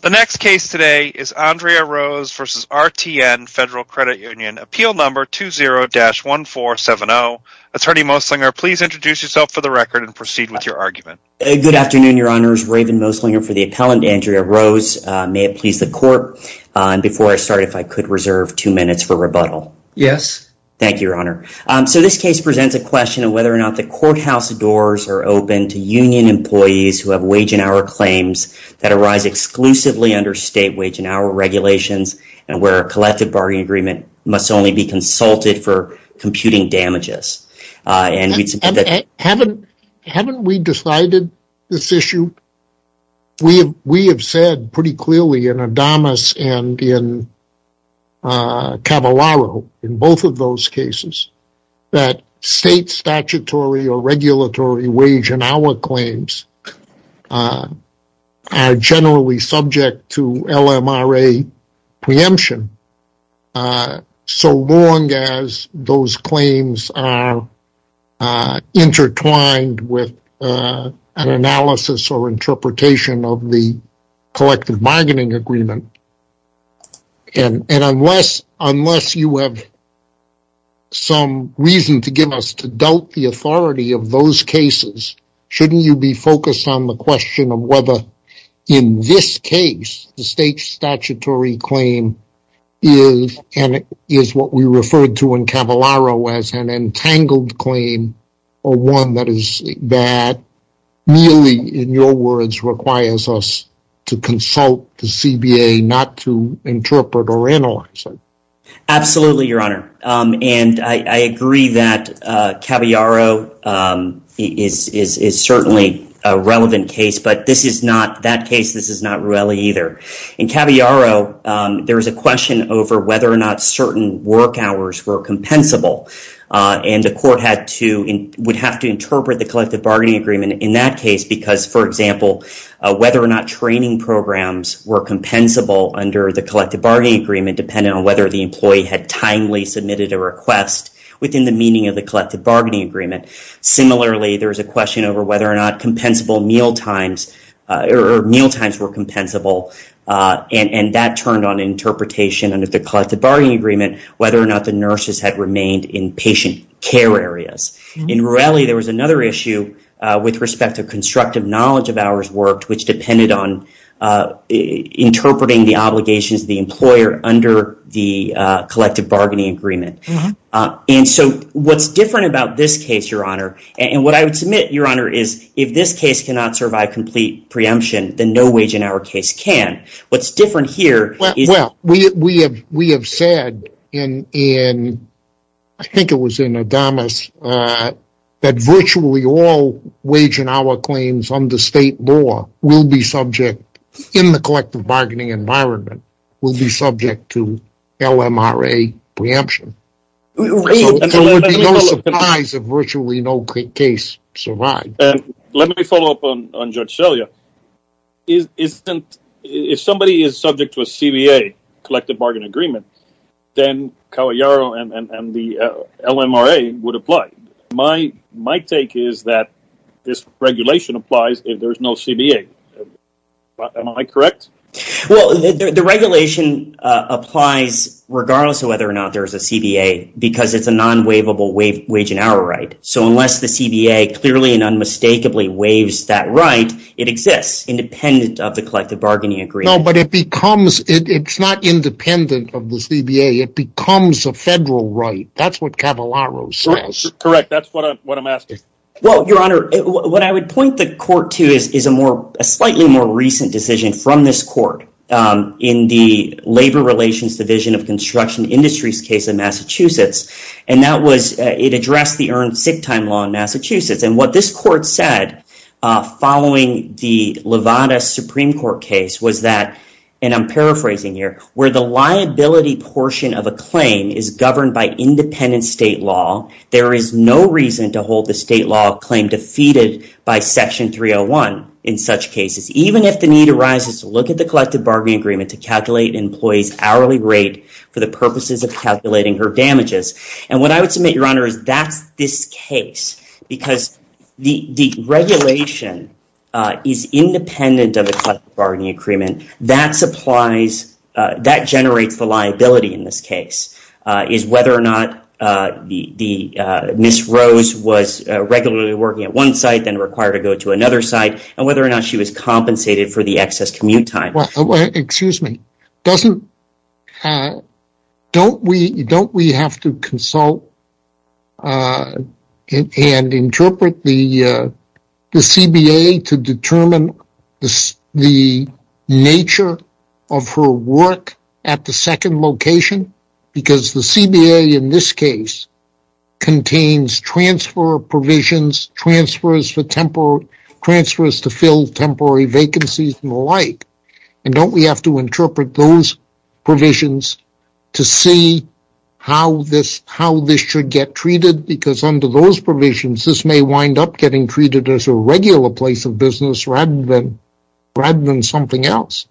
The next case today is Andrea Rose v. RTN Federal Credit Union, Appeal Number 20-1470. Attorney Moslinger, please introduce yourself for the record and proceed with your argument. Good afternoon, Your Honors. Raven Moslinger for the appellant, Andrea Rose. May it please the Court, before I start, if I could reserve two minutes for rebuttal. Yes. Thank you, Your Honor. So this case presents a question of whether or not the courthouse doors are open to union employees who have wage and hour claims that arise exclusively under state wage and hour regulations and where a collective bargaining agreement must only be consulted for computing damages. Haven't we decided this issue? We have said pretty clearly in Adamus and in Cavallaro, in both of those cases, that state statutory or regulatory wage and hour claims are generally subject to LMRA preemption so long as those claims are intertwined with an analysis or interpretation of the collective bargaining agreement. Unless you have some reason to give us to doubt the authority of those cases, shouldn't you be focused on the question of whether, in this case, the state statutory claim is what we referred to in Cavallaro as an entangled claim or one that merely, in your words, requires us to consult the CBA, not to interpret or analyze it? Absolutely, Your Honor, and I agree that Cavallaro is certainly a relevant case, but in that case, this is not Ruelli either. In Cavallaro, there is a question over whether or not certain work hours were compensable and the court would have to interpret the collective bargaining agreement in that case because, for example, whether or not training programs were compensable under the collective bargaining agreement depending on whether the employee had timely submitted a request within the meaning of the collective bargaining agreement. Similarly, there is a question over whether or not meal times were compensable and that turned on interpretation under the collective bargaining agreement whether or not the nurses had remained in patient care areas. In Ruelli, there was another issue with respect to constructive knowledge of hours worked, which depended on interpreting the obligations of the employer under the collective bargaining agreement. And so what's different about this case, Your Honor, and what I would submit, Your Honor, is if this case cannot survive complete preemption, then no wage in our case can. Well, we have said in, I think it was in Adamus, that virtually all wage in our claims under state law will be subject, in the collective bargaining environment, will be subject to LMRA preemption. So there would be no surprise if virtually no case survived. And let me follow up on Judge Selya. If somebody is subject to a CBA, collective bargaining agreement, then Cahuillaro and the LMRA would apply. My take is that this regulation applies if there's no CBA. Am I correct? Well, the regulation applies regardless of whether or not there's a CBA because it's a non-waivable wage and hour right. So unless the CBA clearly and unmistakably waives that right, it exists independent of the collective bargaining agreement. No, but it's not independent of the CBA. It becomes a federal right. That's what Cahuillaro says. Correct. That's what I'm asking. Well, Your Honor, what I would point the court to is a slightly more recent decision from this court in the Labor Relations Division of Construction Industries case in Massachusetts. It addressed the earned sick time law in Massachusetts. And what this court said following the Levada Supreme Court case was that, and I'm paraphrasing here, where the liability portion of a claim is governed by independent state law, there is no reason to hold the state law claim defeated by Section 301 in such cases, even if the need arises to look at the collective bargaining agreement to calculate an employee's hourly rate for the purposes of calculating her damages. And what I would submit, Your Honor, is that's this case because the regulation is independent of the collective bargaining agreement. That generates the liability in this case, is whether or not Ms. Rose was regularly working at one site then required to go to another site and whether or not she was compensated for the excess commute time. Excuse me. Don't we have to consult and interpret the CBA to determine the nature of her work at the second location? Because the CBA in this case contains transfer provisions, transfers to fill temporary vacancies and the like. And don't we have to interpret those provisions to see how this should get treated? Because under those provisions, this may wind up getting treated as a regular place of business rather than something else.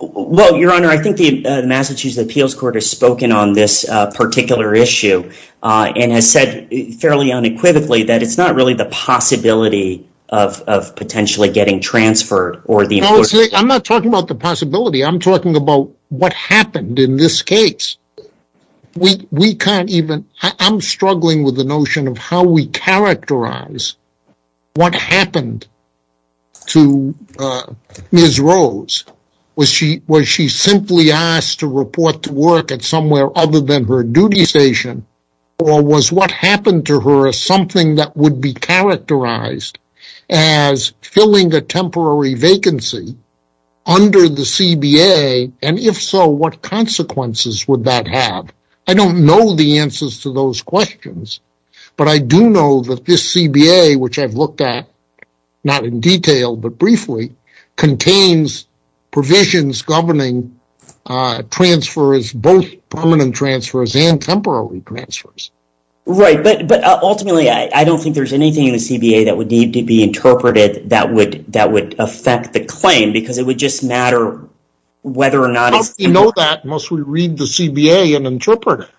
Well, Your Honor, I think the Massachusetts Appeals Court has spoken on this particular issue and has said fairly unequivocally that it's not really the possibility of potentially getting transferred. I'm not talking about the possibility. I'm talking about what happened in this case. I'm struggling with the notion of how we characterize what happened to Ms. Rose. Was she simply asked to report to work at somewhere other than her duty station? Or was what happened to her something that would be characterized as filling a temporary vacancy under the CBA? And if so, what consequences would that have? I don't know the answers to those questions, but I do know that this CBA, which I've looked at, not in detail but briefly, contains provisions governing transfers, both permanent transfers and temporary transfers. Right, but ultimately, I don't think there's anything in the CBA that would need to be interpreted that would affect the claim because it would just matter whether or not it's... How do we know that? Must we read the CBA and interpret it?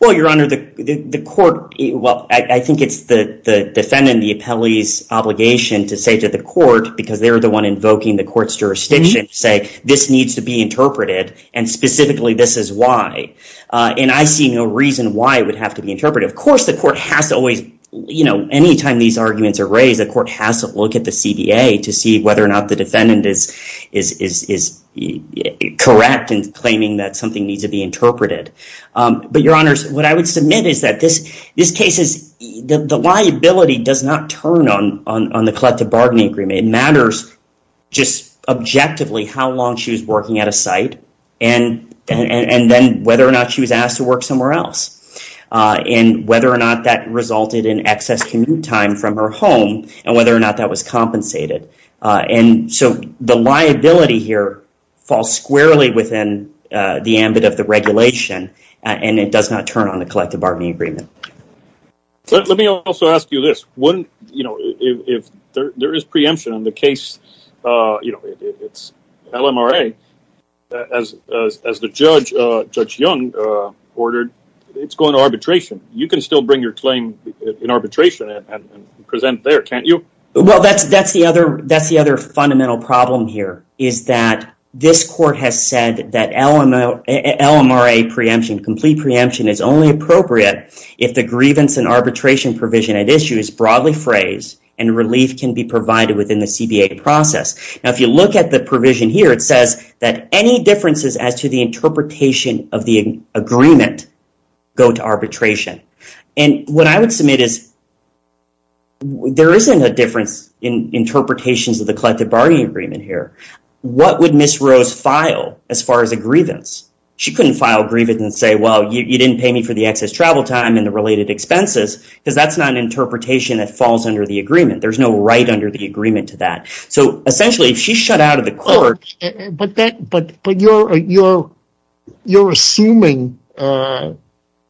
Well, Your Honor, the court... Well, I think it's the defendant, the appellee's obligation to say to the court, because they're the one invoking the court's jurisdiction, to say, this needs to be interpreted, and specifically, this is why. And I see no reason why it would have to be interpreted. Of course, the court has to always... You know, anytime these arguments are raised, the court has to look at the CBA to see whether or not the defendant is correct in claiming that something needs to be interpreted. But, Your Honors, what I would submit is that this case is... The liability does not turn on the collective bargaining agreement. It matters just objectively how long she was working at a site and then whether or not she was asked to work somewhere else and whether or not that resulted in excess commute time from her home and whether or not that was compensated. And so the liability here falls squarely within the ambit of the regulation and it does not turn on the collective bargaining agreement. Let me also ask you this. Wouldn't, you know, if there is preemption in the case, you know, it's LMRA, as the judge, Judge Young, ordered, it's going to arbitration. You can still bring your claim in arbitration and present there, can't you? Well, that's the other fundamental problem here, is that this court has said that LMRA preemption, complete preemption, is only appropriate if the grievance and arbitration provision at issue is broadly phrased and relief can be provided within the CBA process. Now, if you look at the provision here, it says that any differences as to the interpretation of the agreement go to arbitration. And what I would submit is there isn't a difference in interpretations of the collective bargaining agreement here. What would Ms. Rose file as far as a grievance? She couldn't file a grievance and say, well, you didn't pay me for the excess travel time and the related expenses, because that's not an interpretation that falls under the agreement. There's no right under the agreement to that. So essentially, if she shut out of the court... But you're assuming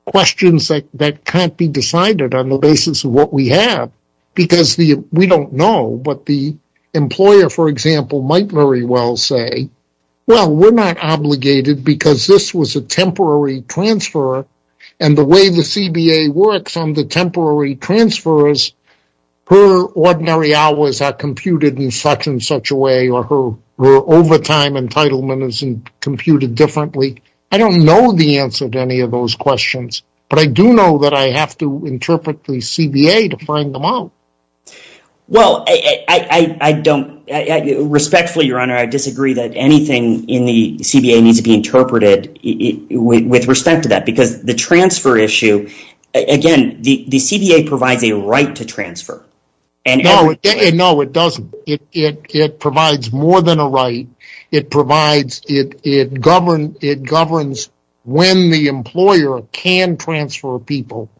questions that can't be decided on the basis of what we have, because we don't know. But the employer, for example, might very well say, well, we're not obligated because this was a temporary transfer, and the way the CBA works on the temporary transfers, or her overtime entitlement is computed differently. I don't know the answer to any of those questions, but I do know that I have to interpret the CBA to find them out. Well, respectfully, Your Honor, I disagree that anything in the CBA needs to be interpreted with respect to that, because the transfer issue... Again, the CBA provides a right to transfer. No, it doesn't. It provides more than a right. It governs when the employer can transfer people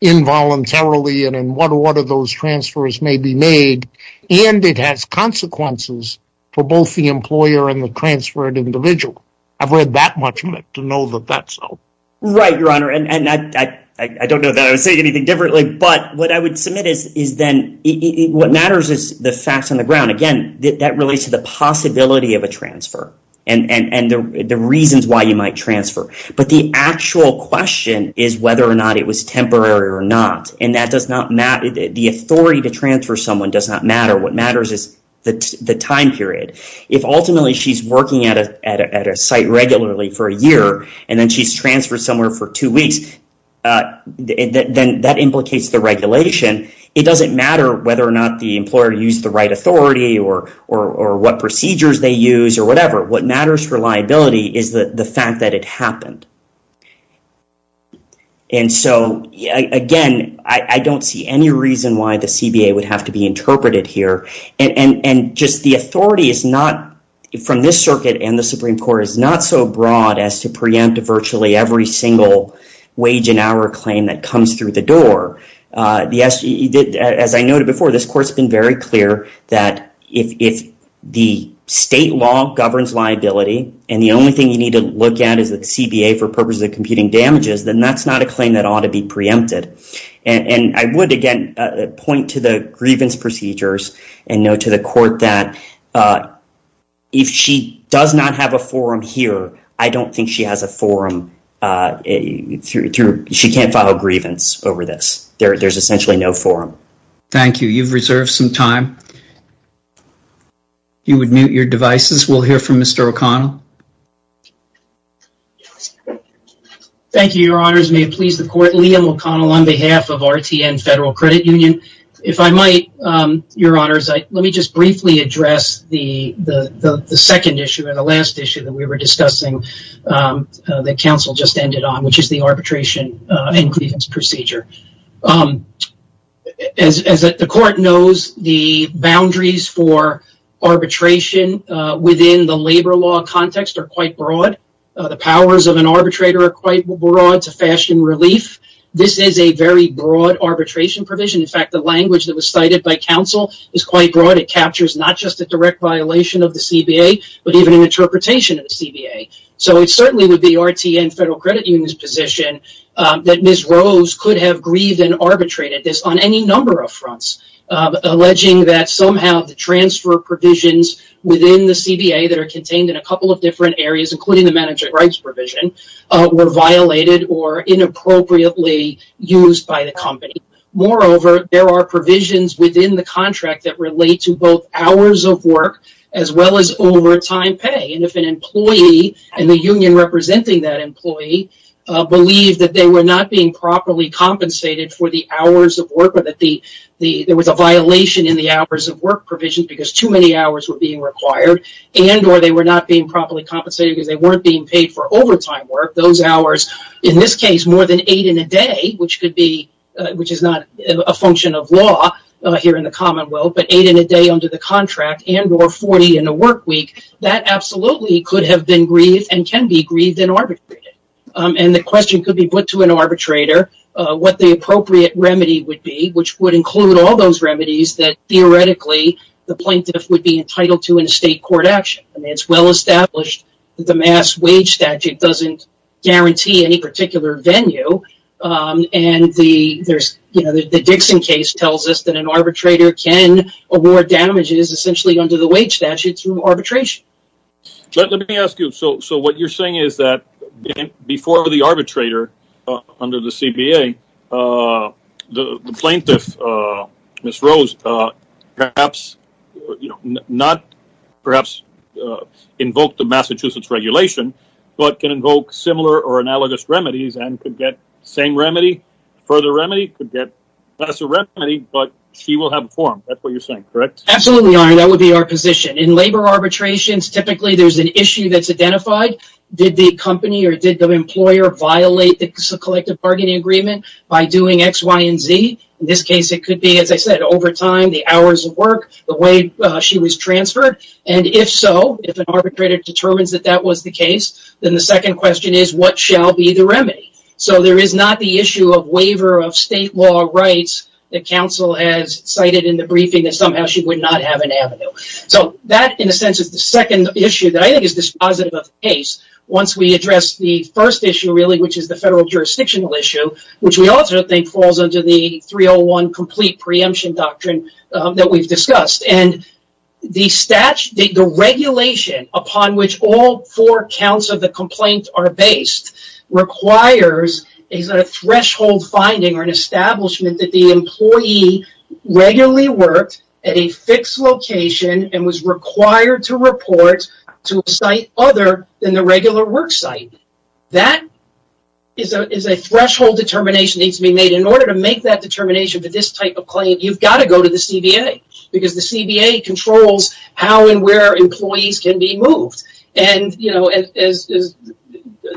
involuntarily and in what order those transfers may be made, and it has consequences for both the employer and the transferred individual. I've read that much to know that that's so. Right, Your Honor, and I don't know that I would say anything differently, but what I would submit is then what matters is the facts on the ground. Again, that relates to the possibility of a transfer and the reasons why you might transfer, but the actual question is whether or not it was temporary or not, and the authority to transfer someone does not matter. What matters is the time period. If ultimately she's working at a site regularly for a year, and then she's transferred somewhere for two weeks, then that implicates the regulation. It doesn't matter whether or not the employer used the right authority or what procedures they used or whatever. What matters for liability is the fact that it happened. Again, I don't see any reason why the CBA would have to be interpreted here, and just the authority from this circuit and the Supreme Court is not so broad as to preempt virtually every single wage and hour claim that comes through the door. As I noted before, this Court's been very clear that if the state law governs liability and the only thing you need to look at is the CBA for purposes of computing damages, then that's not a claim that ought to be preempted. I would, again, point to the grievance procedures and note to the Court that if she does not have a forum here, I don't think she has a forum. She can't file a grievance over this. There's essentially no forum. Thank you. You've reserved some time. You would mute your devices. We'll hear from Mr. O'Connell. Thank you, Your Honors. May it please the Court, Liam O'Connell on behalf of RTN Federal Credit Union. If I might, Your Honors, let me just briefly address the second issue and the last issue that we were discussing that counsel just ended on, which is the arbitration and grievance procedure. As the Court knows, the boundaries for arbitration within the labor law context are quite broad. The powers of an arbitrator are quite broad to fashion relief. This is a very broad arbitration provision. In fact, the language that was cited by counsel is quite broad. It captures not just a direct violation of the CBA, but even an interpretation of the CBA. It certainly would be RTN Federal Credit Union's position that Ms. Rose could have grieved and arbitrated this on any number of fronts, alleging that somehow the transfer provisions within the CBA that are contained in a couple of different areas, including the manager rights provision, were violated or inappropriately used by the company. Moreover, there are provisions within the contract that relate to both hours of work as well as overtime pay. If an employee and the union representing that employee believe that they were not being properly compensated for the hours of work or that there was a violation in the hours of work provision because too many hours were being required and or they were not being properly compensated because they weren't being paid for overtime work, those hours, in this case, more than eight in a day, which is not a function of law here in the Commonwealth, but eight in a day under the contract and or 40 in a work week, that absolutely could have been grieved and can be grieved and arbitrated. And the question could be put to an arbitrator what the appropriate remedy would be, which would include all those remedies that theoretically the plaintiff would be entitled to in a state court action. It's well established that the mass wage statute doesn't guarantee any particular venue. And the Dixon case tells us that an arbitrator can award damages essentially under the wage statute through arbitration. Let me ask you, so what you're saying is that before the arbitrator, under the CBA, the plaintiff, Ms. Rose, perhaps, not perhaps invoke the Massachusetts regulation, but can invoke similar or analogous remedies and could get the same remedy, further remedy, could get lesser remedy, but she will have a forum. That's what you're saying, correct? Absolutely, Your Honor. That would be our position. In labor arbitrations, typically there's an issue that's identified. Did the company or did the employer violate the collective bargaining agreement by doing X, Y, and Z? In this case, it could be, as I said, overtime, the hours of work, the way she was transferred. And if so, if an arbitrator determines that that was the case, then the second question is, what shall be the remedy? So there is not the issue of waiver of state law rights that counsel has cited in the briefing that somehow she would not have an avenue. So that, in a sense, is the second issue that I think is dispositive of the case. Once we address the first issue, really, which is the federal jurisdictional issue, which we also think falls under the 301 Complete Preemption Doctrine that we've discussed. The regulation upon which all four counts of the complaint are based requires a threshold finding or an establishment that the employee regularly worked at a fixed location and was required to report to a site other than the regular work site. That is a threshold determination that needs to be made. In order to make that determination for this type of claim, you've got to go to the CBA, because the CBA controls how and where employees can be moved. And, you know, as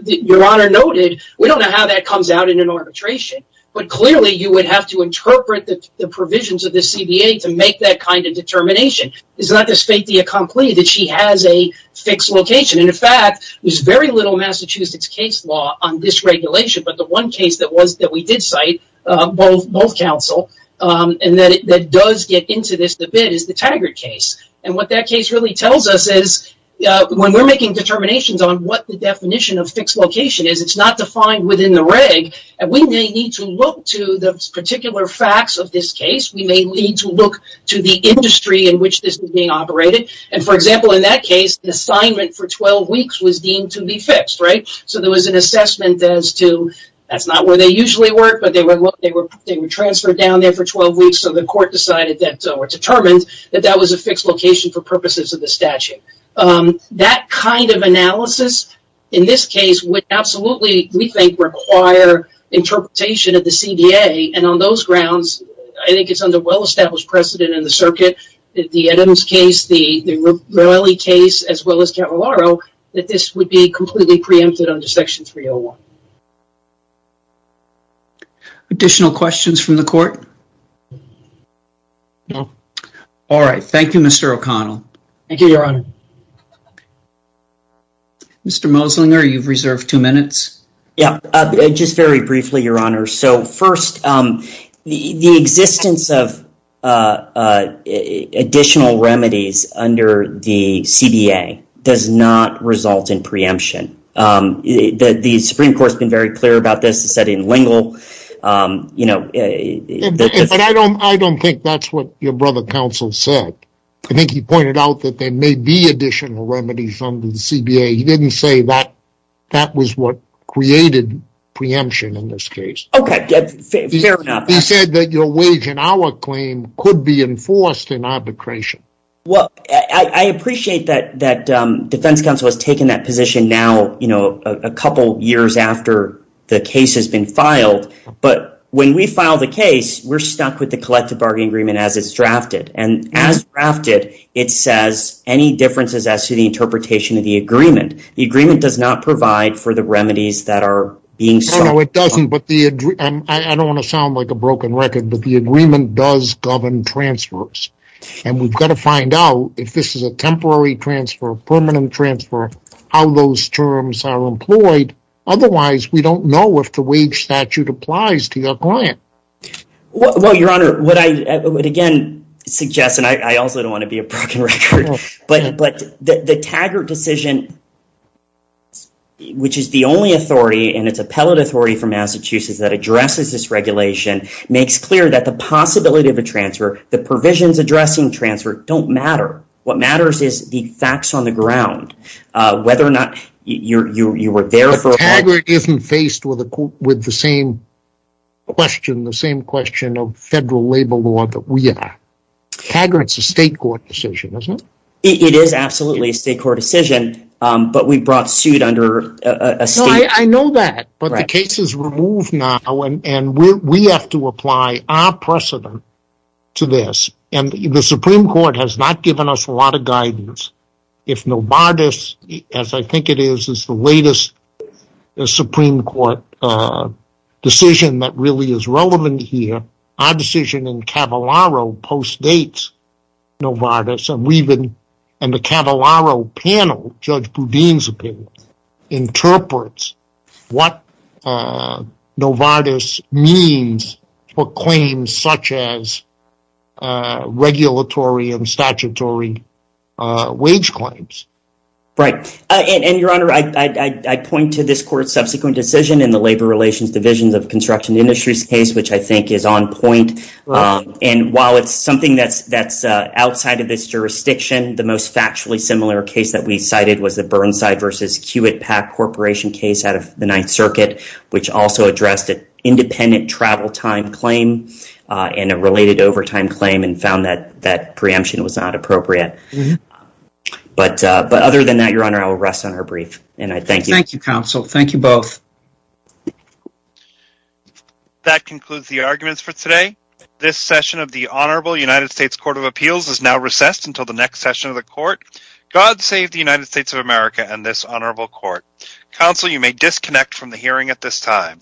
Your Honor noted, we don't know how that comes out in an arbitration, but clearly you would have to interpret the provisions of the CBA to make that kind of determination. It's not just fait accompli that she has a fixed location. And, in fact, there's very little Massachusetts case law on this regulation, but the one case that we did cite, both counsel, and that does get into this a bit is the Taggart case. And what that case really tells us is when we're making determinations on what the definition of fixed location is, it's not defined within the reg, and we may need to look to the particular facts of this case. We may need to look to the industry in which this is being operated. And, for example, in that case, the assignment for 12 weeks was deemed to be fixed, right? So there was an assessment as to that's not where they usually work, but they were transferred down there for 12 weeks, so the court decided that or determined that that was a fixed location for purposes of the statute. That kind of analysis in this case would absolutely, we think, require interpretation of the CBA. And on those grounds, I think it's under well-established precedent in the circuit, the Eddams case, the Rowley case, as well as Cavallaro, that this would be completely preempted under Section 301. Additional questions from the court? No. All right. Thank you, Mr. O'Connell. Thank you, Your Honor. Mr. Moslinger, you've reserved two minutes. Yeah. Just very briefly, Your Honor. So, first, the existence of additional remedies under the CBA does not result in preemption. The Supreme Court's been very clear about this. It said in Lingle, you know. But I don't think that's what your brother counsel said. I think he pointed out that there may be additional remedies under the CBA. He didn't say that that was what created preemption in this case. Okay. Fair enough. He said that your wage and hour claim could be enforced in arbitration. Well, I appreciate that defense counsel has taken that position now, you know, a couple years after the case has been filed. But when we file the case, we're stuck with the collective bargaining agreement as it's drafted. And as drafted, it says, any differences as to the interpretation of the agreement. The agreement does not provide for the remedies that are being sought. No, it doesn't. And I don't want to sound like a broken record, but the agreement does govern transfers. And we've got to find out if this is a temporary transfer, permanent transfer, how those terms are employed. Otherwise, we don't know if the wage statute applies to your client. Well, Your Honor, what I would again suggest, and I also don't want to be a broken record, but the Taggart decision, which is the only authority and it's appellate authority from Massachusetts that addresses this regulation, makes clear that the possibility of a transfer, the provisions addressing transfer don't matter. What matters is the facts on the ground, whether or not you were there for a while. But Taggart isn't faced with the same question, the same question of federal labor law that we are. Taggart's a state court decision, isn't it? It is absolutely a state court decision, but we brought suit under a state. I know that, but the case is removed now, and we have to apply our precedent to this. And the Supreme Court has not given us a lot of guidance. If Novartis, as I think it is, is the latest Supreme Court decision that really is relevant here, our decision in Cavallaro postdates Novartis, and the Cavallaro panel, Judge Boudin's opinion, interprets what Novartis means for claims such as regulatory and statutory wage claims. Right. And, Your Honor, I point to this court's subsequent decision in the Labor Relations Division of Construction Industries case, which I think is on point. And while it's something that's outside of this jurisdiction, the most factually similar case that we cited was the Burnside v. Hewitt Pack Corporation case out of the Ninth Circuit, which also addressed an independent travel time claim and a related overtime claim and found that that preemption was not appropriate. But other than that, Your Honor, I will rest on our brief. Thank you, Counsel. Thank you both. That concludes the arguments for today. This session of the Honorable United States Court of Appeals is now recessed until the next session of the Court. God save the United States of America and this Honorable Court. Counsel, you may disconnect from the hearing at this time.